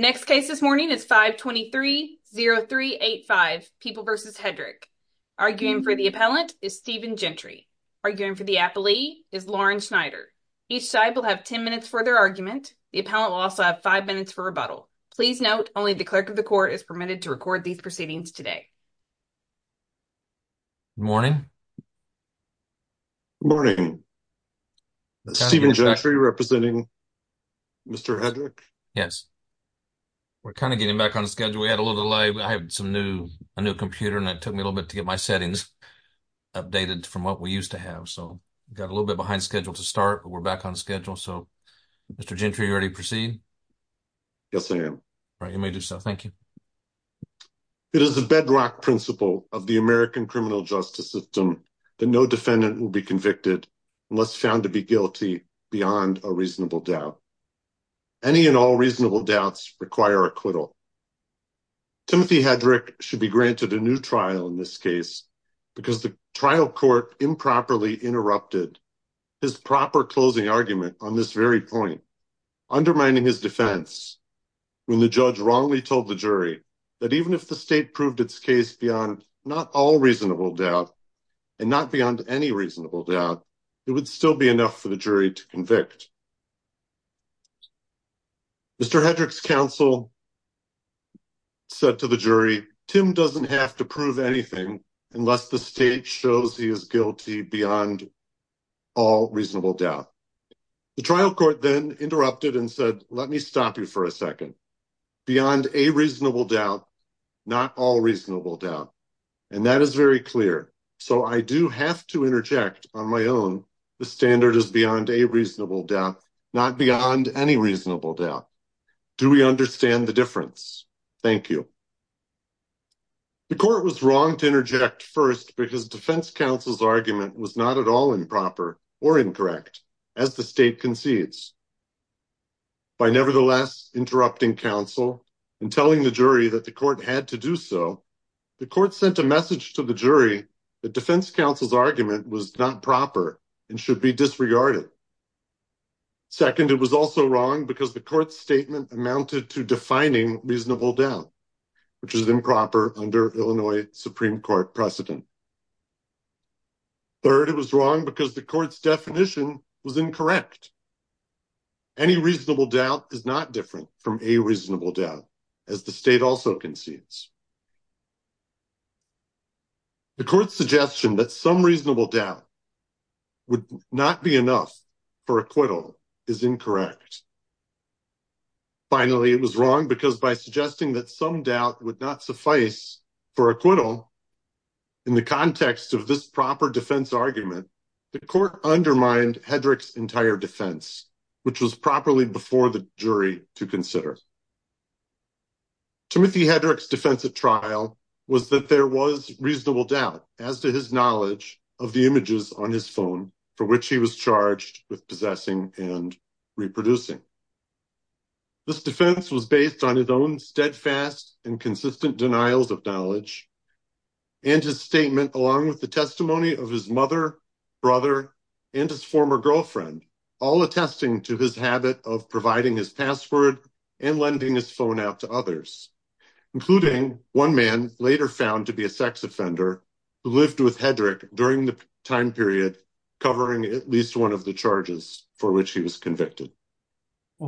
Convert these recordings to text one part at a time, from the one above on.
The next case this morning is 523-0385, People v. Hedrick. Arguing for the appellant is Stephen Gentry. Arguing for the appellee is Lauren Schneider. Each side will have ten minutes for their argument. The appellant will also have five minutes for rebuttal. Please note, only the clerk of the court is permitted to record these proceedings today. Good morning. Good morning. Stephen Gentry representing Mr. Hedrick? Yes. We're kind of getting back on schedule. We had a little delay. I have some new, a new computer and it took me a little bit to get my settings updated from what we used to have. So we got a little bit behind schedule to start, but we're back on schedule. So Mr. Gentry, are you ready to proceed? Yes, I am. All right, you may do so. Thank you. It is a bedrock principle of the American criminal justice system that no defendant will be convicted unless found to be guilty beyond a reasonable doubt. Any and all reasonable doubts require acquittal. Timothy Hedrick should be granted a new trial in this case because the trial court improperly interrupted his proper closing argument on this very point, undermining his defense when the judge wrongly told the jury that even if the state proved its case beyond not all reasonable doubt and not beyond any reasonable doubt, it would still be enough for the jury to convict. Mr. Hedrick's counsel said to the jury, Tim doesn't have to prove anything unless the state shows he is guilty beyond all reasonable doubt. The trial court then interrupted and said, let me stop you for a second. Beyond a reasonable doubt, not all reasonable doubt. And that is very clear. So I do have to interject on my own. The standard is beyond a reasonable doubt, not beyond any reasonable doubt. Do we understand the difference? Thank you. The court was wrong to interject first because defense counsel's argument was not at all improper or incorrect as the state concedes. By nevertheless interrupting counsel and telling the jury that the court had to do so, the court sent a message to the jury. The defense counsel's argument was not proper and should be disregarded. Second, it was also wrong because the court's statement amounted to defining reasonable doubt, which is improper under Illinois Supreme Court precedent. Third, it was wrong because the court's definition was incorrect. Any reasonable doubt is not different from a reasonable doubt as the state also concedes. The court's suggestion that some reasonable doubt would not be enough for acquittal is incorrect. Finally, it was wrong because by suggesting that some doubt would not suffice for acquittal in the context of this proper defense argument, the court undermined Hedrick's entire defense, which was properly before the jury to consider. Timothy Hedrick's defense at trial was that there was reasonable doubt as to his knowledge of the images on his phone for which he was charged with possessing and reproducing. This defense was based on his own steadfast and consistent denials of knowledge and his statement along with the testimony of his mother, brother, and his former girlfriend, all attesting to his habit of providing his password and lending his phone out to others, including one man later found to be a sex offender who lived with Hedrick during the time period covering at least one of the charges for which he was convicted.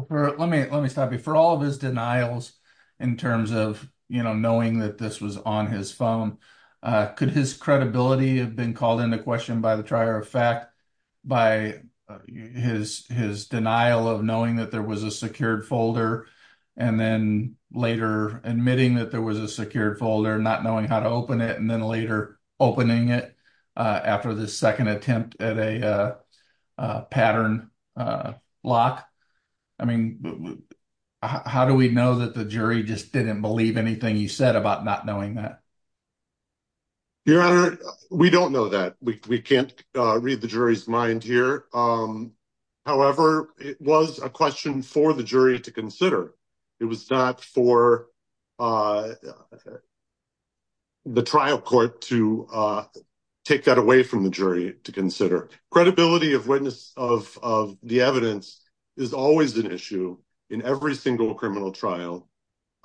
For all of his denials in terms of knowing that this was on his phone, could his credibility have been called into question by the trier of fact by his denial of knowing that there was a secured folder and then later admitting that there was a secured folder, not knowing how to open it, and then later opening it after the second attempt at a pattern lock? How do we know that the jury just didn't believe anything you said about not knowing that? Your Honor, we don't know that. We can't read the jury's mind here. However, it was a question for the jury to consider. It was not for the trial court to take that away from the jury to consider. Credibility of witness of the evidence is always an issue in every single trial,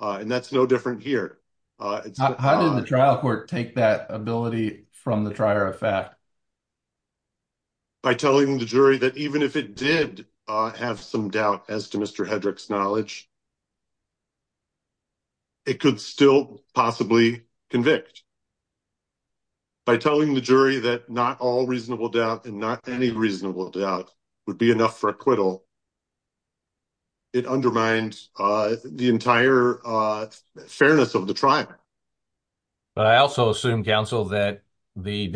and that's no different here. How did the trial court take that ability from the trier of fact? By telling the jury that even if it did have some doubt as to Mr. Hedrick's knowledge, it could still possibly convict. By telling the jury that not all reasonable doubt and not any reasonable doubt would be enough for acquittal, it undermined the entire fairness of the trial. But I also assume, counsel, that with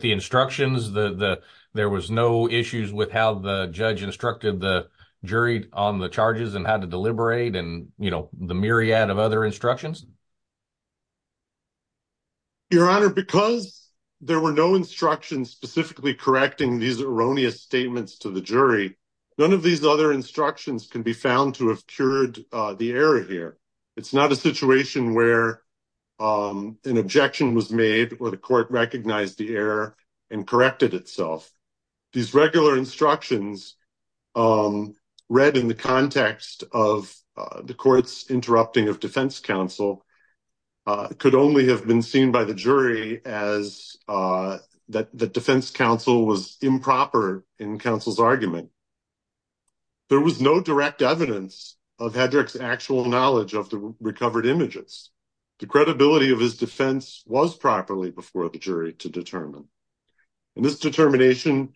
the instructions, there was no issues with how the judge instructed the jury on the charges and how to deliberate and the myriad of other Your Honor, because there were no instructions specifically correcting these erroneous statements to the jury, none of these other instructions can be found to have cured the error here. It's not a situation where an objection was made or the court recognized the error and corrected itself. These regular instructions read in the context of the court's interrupting of defense counsel could only have been seen by the jury as that the defense counsel was improper in counsel's argument. There was no direct evidence of Hedrick's actual knowledge of the recovered images. The credibility of his defense was properly before the jury to determine, and this determination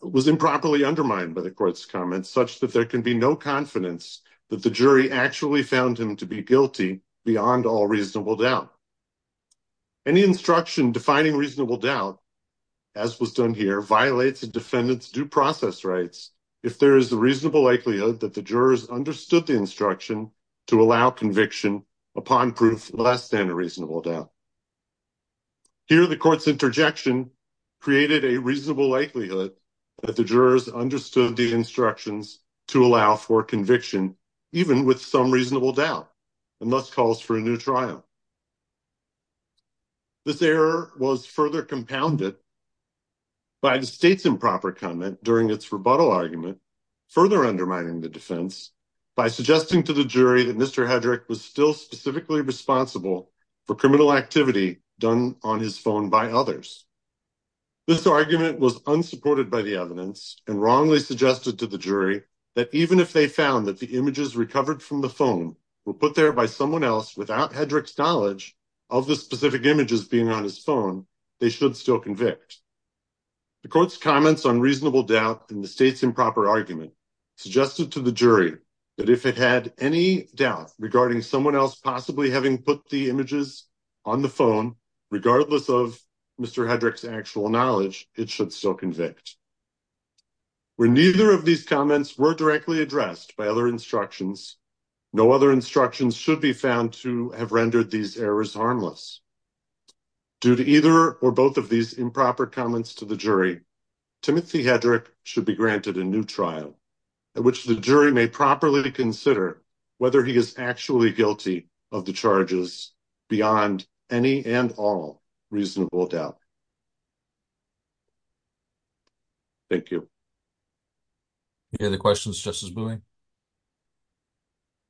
was improperly undermined by the court's comments such that there can be no confidence that the jury actually found him to be guilty beyond all reasonable doubt. Any instruction defining reasonable doubt, as was done here, violates a defendant's due process rights if there is a reasonable likelihood that the jurors understood the instruction to allow conviction upon proof less than a reasonable doubt. Here the court's interjection created a reasonable likelihood that the jurors understood the instructions to allow for conviction even with some reasonable doubt and thus calls for a new trial. This error was further compounded by the state's improper comment during its rebuttal argument, further undermining the defense by suggesting to the jury that Mr. Hedrick was still specifically responsible for criminal activity done on his phone by others. This argument was unsupported by the evidence and wrongly suggested to the jury that even if they found that the images recovered from the phone were put there by someone else without Hedrick's knowledge of the specific images being on his phone, they should still convict. The court's comments on reasonable doubt in the state's improper argument suggested to the jury that if it had any doubt regarding someone else possibly having put the images on the phone, regardless of Mr. Hedrick's actual knowledge, it should still convict. When neither of these comments were directly addressed by other instructions, no other instructions should be found to have rendered these errors harmless. Due to either or both of these improper comments to the jury, Timothy Hedrick should be granted a trial at which the jury may properly consider whether he is actually guilty of the charges beyond any and all reasonable doubt. Thank you. Any other questions, Justice Bowman?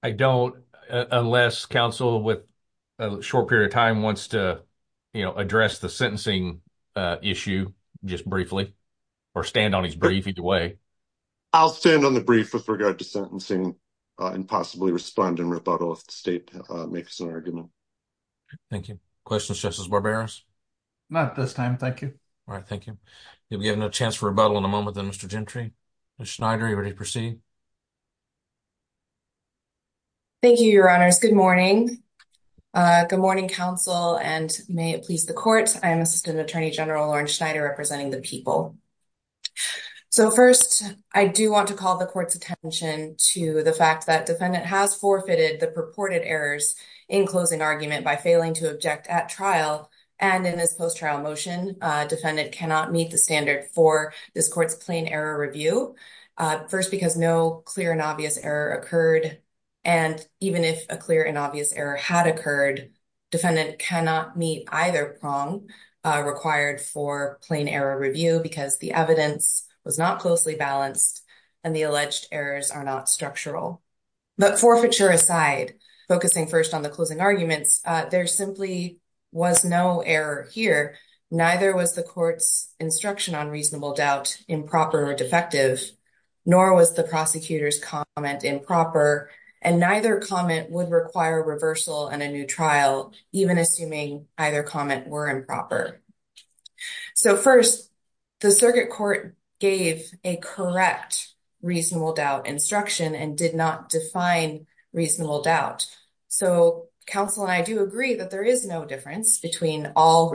I don't, unless counsel with a short period of time wants to, you know, address the sentencing issue just briefly or stand on his brief either way. I'll stand on the brief with regard to sentencing and possibly respond in rebuttal if the state makes an argument. Thank you. Questions, Justice Barberos? Not at this time, thank you. All right, thank you. If we have no chance for rebuttal in a moment, then Mr. Gentry, Ms. Schneider, you're ready to proceed. Thank you, your honors. Good morning. Good morning, counsel, and may it please the court. I am Assistant Attorney General Lauren Schneider representing the people. So, first, I do want to call the court's attention to the fact that defendant has forfeited the purported errors in closing argument by failing to object at trial, and in this post-trial motion, defendant cannot meet the standard for this court's plain error review. First, because no clear and obvious error occurred, and even if a clear and obvious error had occurred, defendant cannot meet either prong required for plain error review because the evidence was not closely balanced and the alleged errors are not structural. But forfeiture aside, focusing first on the closing arguments, there simply was no error here. Neither was the court's instruction on reasonable doubt improper or defective, nor was the prosecutor's comment improper, and neither comment would require reversal in a new trial, even assuming either comment were improper. So, first, the circuit court gave a correct reasonable doubt instruction and did not define reasonable doubt. So, counsel and I do agree that there is no difference between beyond all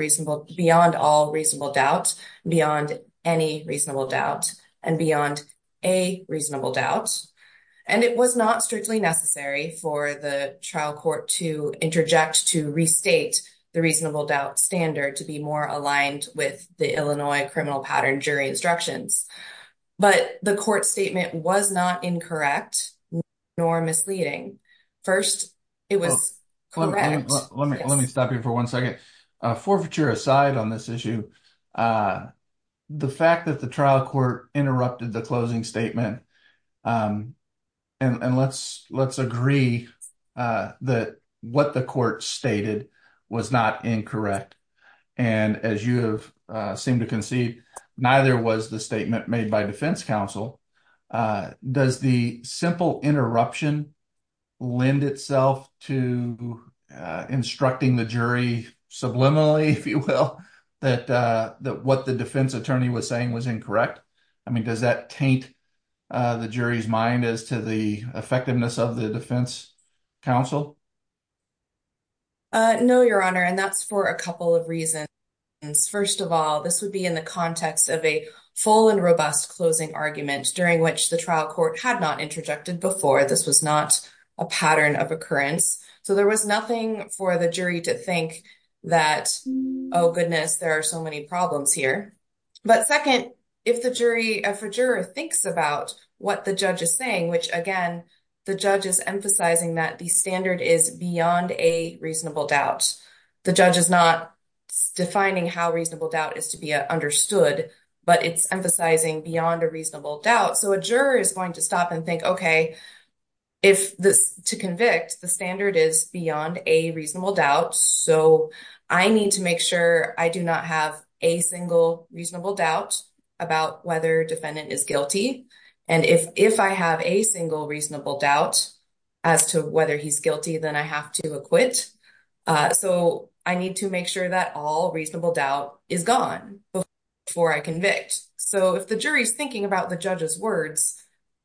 reasonable doubt, beyond any reasonable doubt, and beyond a reasonable doubt. And it was not strictly necessary for the trial court to interject to restate the reasonable doubt standard to be more aligned with the Illinois criminal pattern jury instructions. But the court statement was not incorrect nor misleading. First, it was correct. Let me stop you for one second. Forfeiture aside on this issue, the fact that the trial court interrupted the closing statement, and let's agree that what the court stated was not incorrect, and as you seem to concede, neither was the statement made by defense counsel. Does the simple interruption lend itself to instructing the jury subliminally, if you will, that what the defense attorney was saying was correct? I mean, does that taint the jury's mind as to the effectiveness of the defense counsel? No, your honor, and that's for a couple of reasons. First of all, this would be in the context of a full and robust closing argument during which the trial court had not interjected before. This was not a pattern of occurrence. So, there was nothing for the jury to think that, oh goodness, there are many problems here. But second, if the jury thinks about what the judge is saying, which, again, the judge is emphasizing that the standard is beyond a reasonable doubt. The judge is not defining how reasonable doubt is to be understood, but it's emphasizing beyond a reasonable doubt. So, a juror is going to stop and think, okay, to convict, the standard is beyond a reasonable doubt. So, I need to make sure I do not have a single reasonable doubt about whether defendant is guilty. And if I have a single reasonable doubt as to whether he's guilty, then I have to acquit. So, I need to make sure that all reasonable doubt is gone before I convict. So, if the jury's thinking about the judge's words,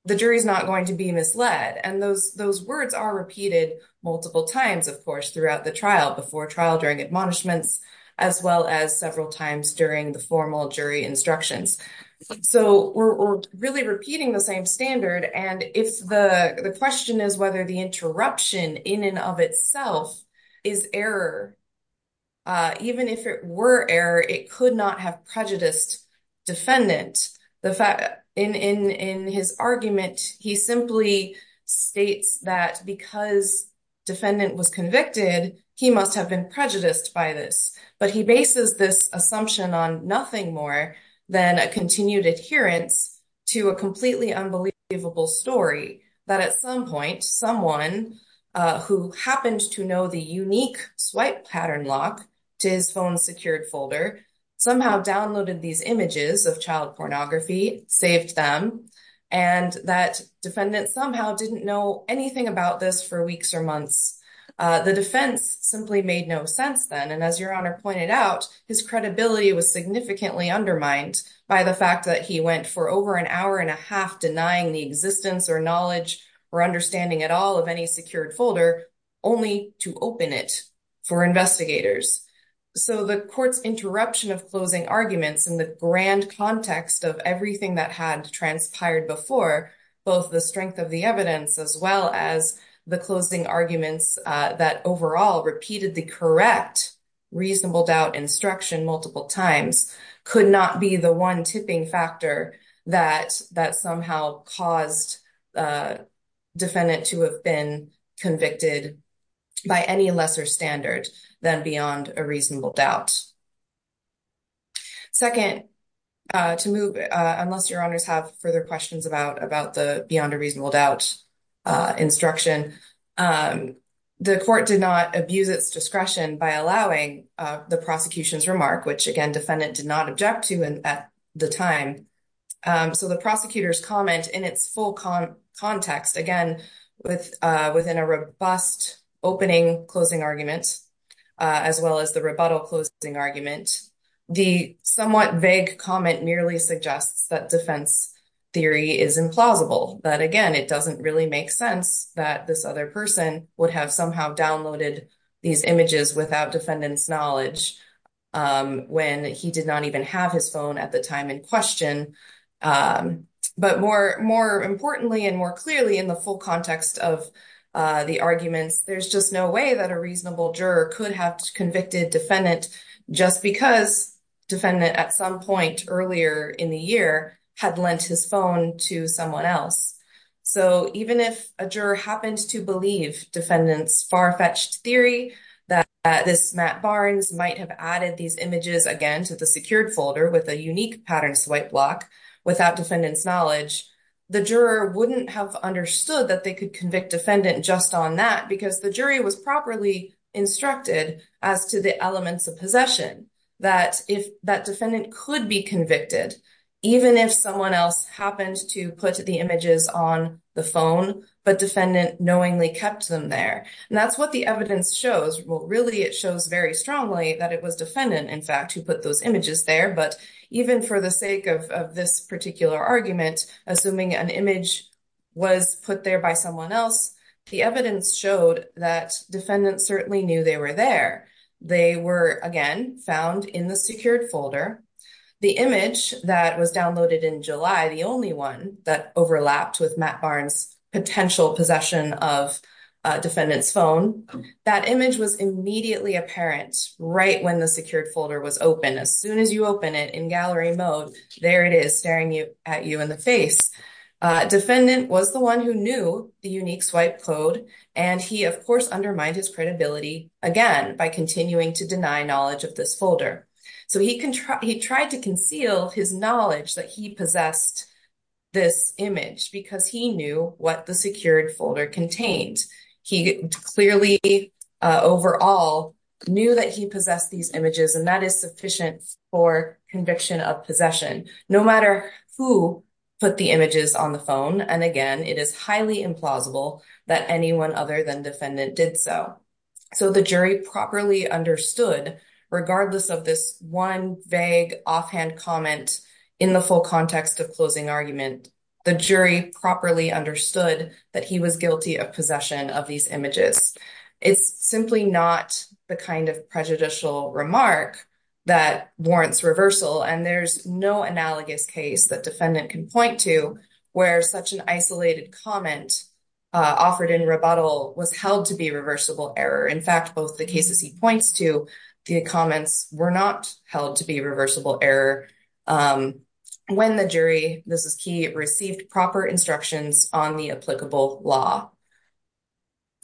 the jury's not going to be misled. And those words are repeated multiple times, of course, throughout the trial, before trial, during admonishments, as well as several times during the formal jury instructions. So, we're really repeating the same standard. And if the question is whether the interruption in and of itself is error, even if it were error, it could not have prejudiced defendant. In his argument, he simply states that because defendant was convicted, he must have been prejudiced by this. But he bases this assumption on nothing more than a continued adherence to a completely unbelievable story that at some point, someone who happened to know the unique pornography saved them. And that defendant somehow didn't know anything about this for weeks or months. The defense simply made no sense then. And as your honor pointed out, his credibility was significantly undermined by the fact that he went for over an hour and a half denying the existence or knowledge or understanding at all of any secured folder, only to open it for investigators. So, the court's interruption of closing arguments in the grand context of everything that had transpired before, both the strength of the evidence as well as the closing arguments that overall repeated the correct reasonable doubt instruction multiple times, could not be the one tipping factor that somehow caused defendant to have been convicted by any lesser standard than beyond a reasonable doubt. Second, to move, unless your honors have further questions about the beyond a reasonable doubt instruction, the court did not abuse its discretion by allowing the prosecution's remark, which again, defendant did not object to at the time. So, the prosecutor's comment in its full context, again, within a robust opening closing argument, as well as the rebuttal closing argument, the somewhat vague comment nearly suggests that defense theory is implausible. But again, it doesn't really make sense that this other person would have somehow downloaded these images without defendant's knowledge when he did not even have his phone at the time in question. But more importantly and more clearly in the full context of the arguments, there's just no way that a reasonable juror could have convicted defendant just because defendant at some point earlier in the year had lent his phone to someone else. So, even if a juror happened to believe defendant's far-fetched theory that this Matt Barnes might have added these images again to the secured folder with a unique pattern swipe block without defendant's knowledge, the juror wouldn't have understood that they could convict defendant just on that because the jury was properly instructed as to the elements of possession, that defendant could be convicted even if someone else happened to put the images on the phone, but defendant knowingly kept them there. And that's what the evidence shows. Well, really, it shows very strongly that it was defendant, in fact, who put those images there. But even for the sake of this particular argument, assuming an image was put there by someone else, the evidence showed that defendant certainly knew they were there. They were, again, found in the secured folder. The image that was downloaded in July, the only one that overlapped with Matt Barnes' potential possession of defendant's phone, that image was immediately apparent right when the secured folder was open. As soon as you open it in gallery mode, there it is staring at you in the face. Defendant was the one who knew the unique swipe code, and he, of course, undermined his credibility again by continuing to deny knowledge of this folder. So he tried to conceal his knowledge that he possessed this image because he knew what the secured folder contained. He clearly, overall, knew that he possessed these images, and that is sufficient for conviction of possession, no matter who put the images on the phone. And again, it is highly implausible that anyone other than defendant did so. So the jury properly understood, regardless of this one vague offhand comment in the full context of closing argument, the jury properly understood that he was guilty of possession of these images. It's simply not the kind of prejudicial remark that warrants reversal, and there's no analogous case that defendant can point to where such an isolated comment offered in rebuttal was held to be reversible error. In fact, both the cases he points to, the comments were not held to be reversible error when the jury, this is key, received proper instructions on the applicable law.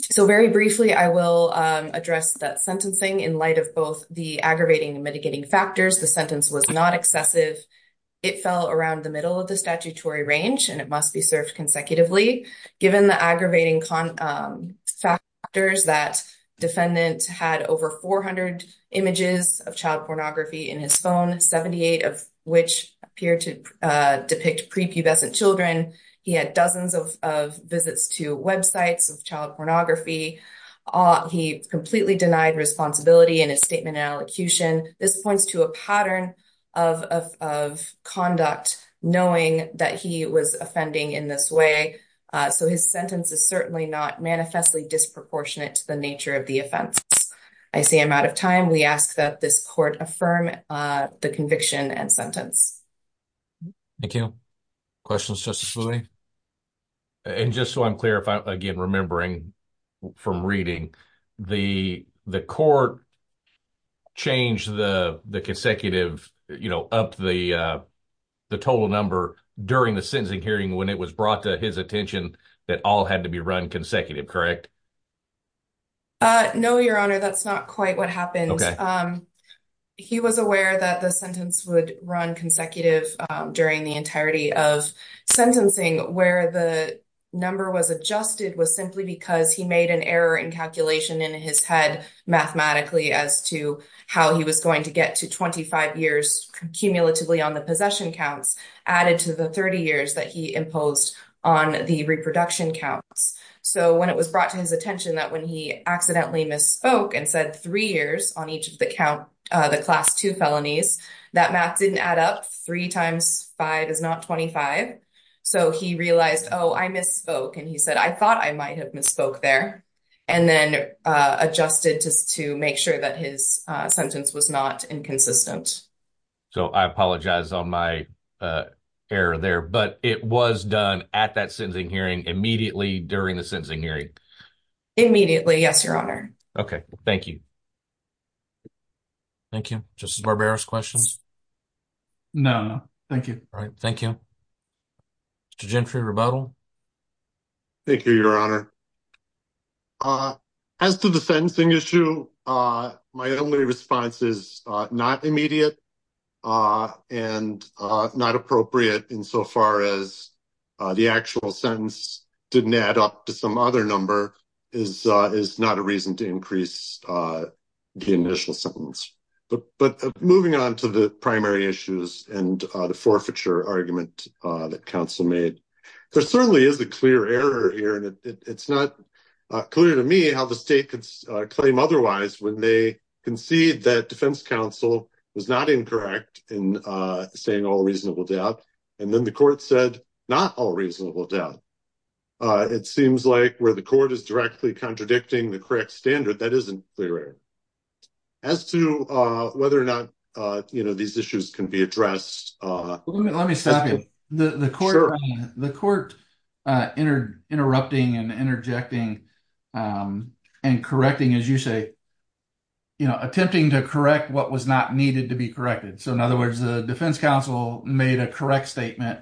So very briefly, I will address that sentencing in light of both the aggravating and mitigating factors. The sentence was not excessive. It fell around the middle of the statutory range, and it must be served consecutively. Given the aggravating factors that defendant had over 400 images of child pornography in his phone, 78 of which appear to depict prepubescent children, he had dozens of visits to websites of child pornography. He completely denied responsibility in his statement and elocution. This points to a pattern of conduct, knowing that he was offending in this way. So his sentence is certainly not manifestly disproportionate to the nature of the offense. I see I'm out of time. We ask that this court affirm the conviction and sentence. Thank you. Questions, Justice Lee? And just so I'm clear, again, remembering from reading, the court changed the consecutive, you know, up the total number during the sentencing hearing when it was brought to his attention that all had to be run consecutive, correct? No, Your Honor, that's not quite what happened. He was aware that the sentence would run consecutive during the entirety of sentencing where the number was adjusted was simply because he made an error in calculation in his head mathematically as to how he was going to get to 25 years cumulatively on the possession counts added to the 30 years that he imposed on the reproduction counts. So when it was brought to his attention that when he accidentally misspoke and said three years on each of the class two felonies, that math didn't add up. Three times five is not 25. So he realized, oh, I misspoke. And he said, I thought I might have misspoke there and then adjusted to make sure that his sentence was not inconsistent. So I apologize on my error there, but it was done at that hearing immediately during the sentencing hearing immediately. Yes, Your Honor. Okay, thank you. Thank you. Just barbarous questions. No, no, thank you. All right. Thank you. Thank you, Your Honor. As to the sentencing issue, my only response is not immediate and not appropriate insofar as the actual sentence didn't add up to some other number is not a reason to increase the initial sentence. But moving on to the primary issues and the forfeiture argument that counsel made, there certainly is a clear error here. And it's not clear to me how the state could claim otherwise when they concede that defense counsel was not incorrect in saying all reasonable doubt. And then the court said not all reasonable doubt. It seems like where the court is directly contradicting the correct standard, that isn't clear error. As to whether or not these issues can be addressed. Let me stop you. The court interrupting and interjecting and correcting, as you say, attempting to correct what was not needed to be corrected. So in other words, the defense counsel made a correct statement.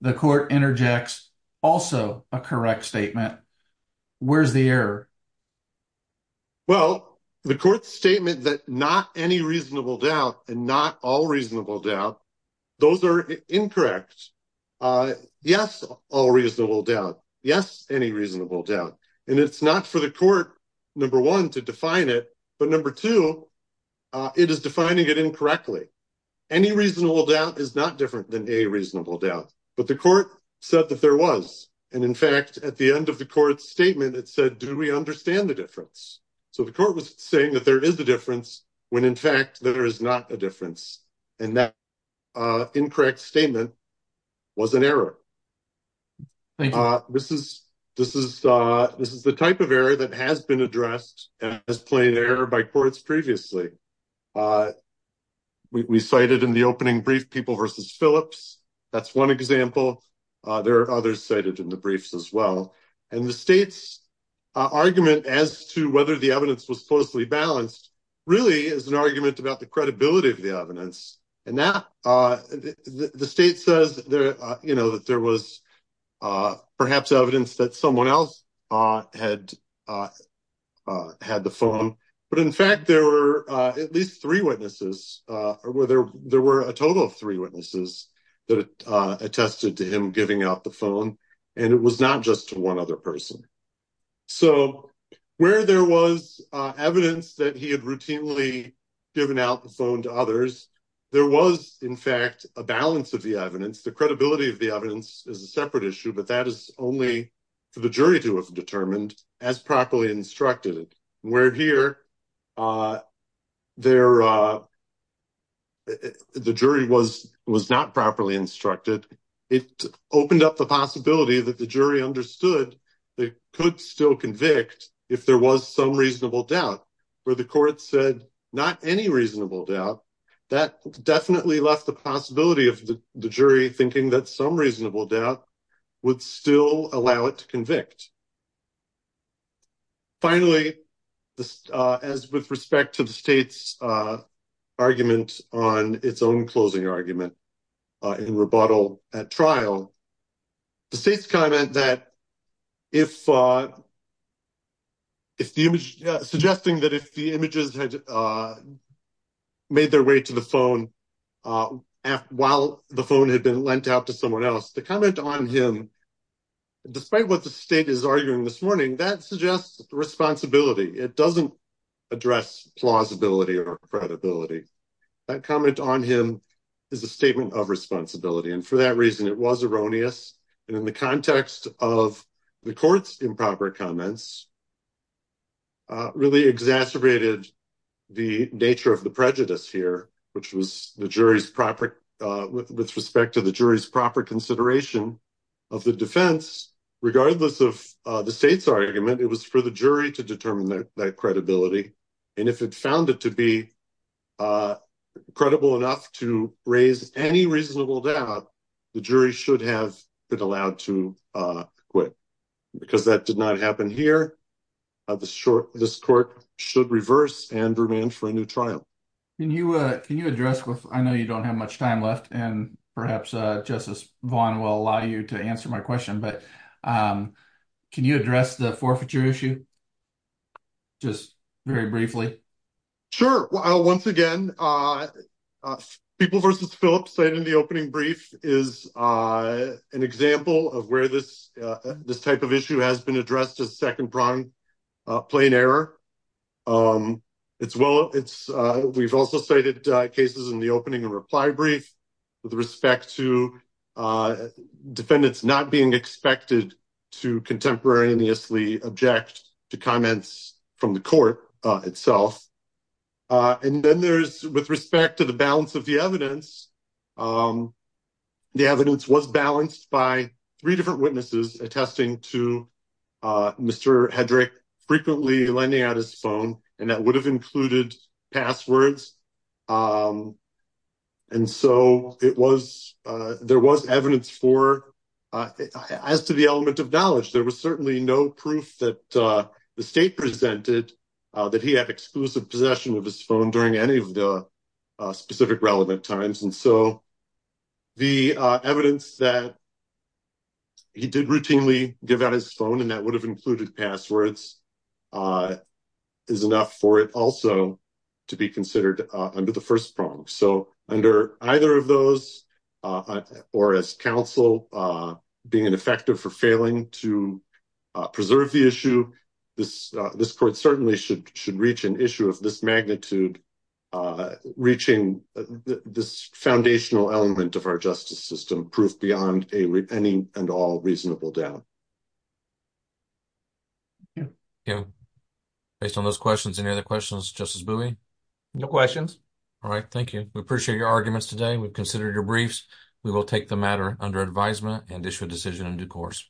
The court interjects also a correct statement. Where's the error? Well, the court's statement that not any reasonable doubt and not all reasonable doubt. Those are incorrect. Yes, all reasonable doubt. Yes, any reasonable doubt. And it's not for the number one to define it. But number two, it is defining it incorrectly. Any reasonable doubt is not different than a reasonable doubt. But the court said that there was. And in fact, at the end of the court's statement, it said, do we understand the difference? So the court was saying that there is a difference when in fact there is not a difference. And that incorrect statement was an error. This is the type of error that has been addressed as plain error by courts previously. We cited in the opening brief people versus Phillips. That's one example. There are others cited in the briefs as well. And the state's argument as to whether the evidence was closely balanced really is an argument about the credibility of the evidence. And that the state says there, you know, that there was perhaps evidence that someone else had had the phone. But in fact, there were at least three witnesses or whether there were a total of three witnesses that attested to him giving out the phone. And it was not just one other person. So where there was evidence that he had routinely given out the phone to others, there was, in fact, a balance of the evidence. The credibility of the evidence is a separate issue, but that is only for the jury to have determined as properly instructed it where here. The jury was was not properly instructed. It opened up the possibility that the jury understood they could still convict if there was some reasonable doubt where the court said not any reasonable doubt that definitely left the possibility of the jury thinking that some reasonable doubt would still allow it to convict. Finally, as with respect to the state's argument on its own closing argument in rebuttal at trial, the state's comment that if if the image suggesting that if the images had made their way to the phone while the phone had been lent out to someone else to comment on him, despite what the state is arguing this morning, that suggests responsibility. It doesn't address plausibility or credibility. That comment on him is a statement of responsibility. And for that reason, it was erroneous. And in the context of the court's improper comments, really exacerbated the nature of the prejudice here, which was the jury's proper with respect to the jury's proper consideration of the defense. Regardless of the state's argument, it was for the jury to determine that credibility. And if it found it to be credible enough to raise any reasonable doubt, the jury should have been allowed to quit because that did not happen here. This court should reverse and remand for a new trial. Can you address with I know you don't have much time left, and perhaps Justice Vaughn will allow you to answer my question, but can you address the forfeiture issue just very briefly? Sure. Well, once again, people versus Phillips said in the opening brief is an example of where this type of issue has been addressed as second prime plain error. It's well, it's we've also cited cases in the opening and reply brief with respect to defendants not being expected to contemporaneously object to comments from the court itself. And then there's with respect to the balance of the evidence. The evidence was balanced by three different witnesses attesting to Mr. Hedrick frequently lending out his phone, and that would have passwords. And so it was there was evidence for as to the element of knowledge. There was certainly no proof that the state presented that he had exclusive possession of his phone during any of the specific relevant times. And so the evidence that he did routinely give out his phone and that have included passwords is enough for it also to be considered under the first prong. So under either of those, or as counsel being ineffective for failing to preserve the issue, this court certainly should should reach an issue of this magnitude, reaching this foundational element of proof beyond any and all reasonable doubt. Based on those questions, any other questions, Justice Bowie? No questions. All right. Thank you. We appreciate your arguments today. We've considered your briefs. We will take the matter under advisement and issue a decision in due course.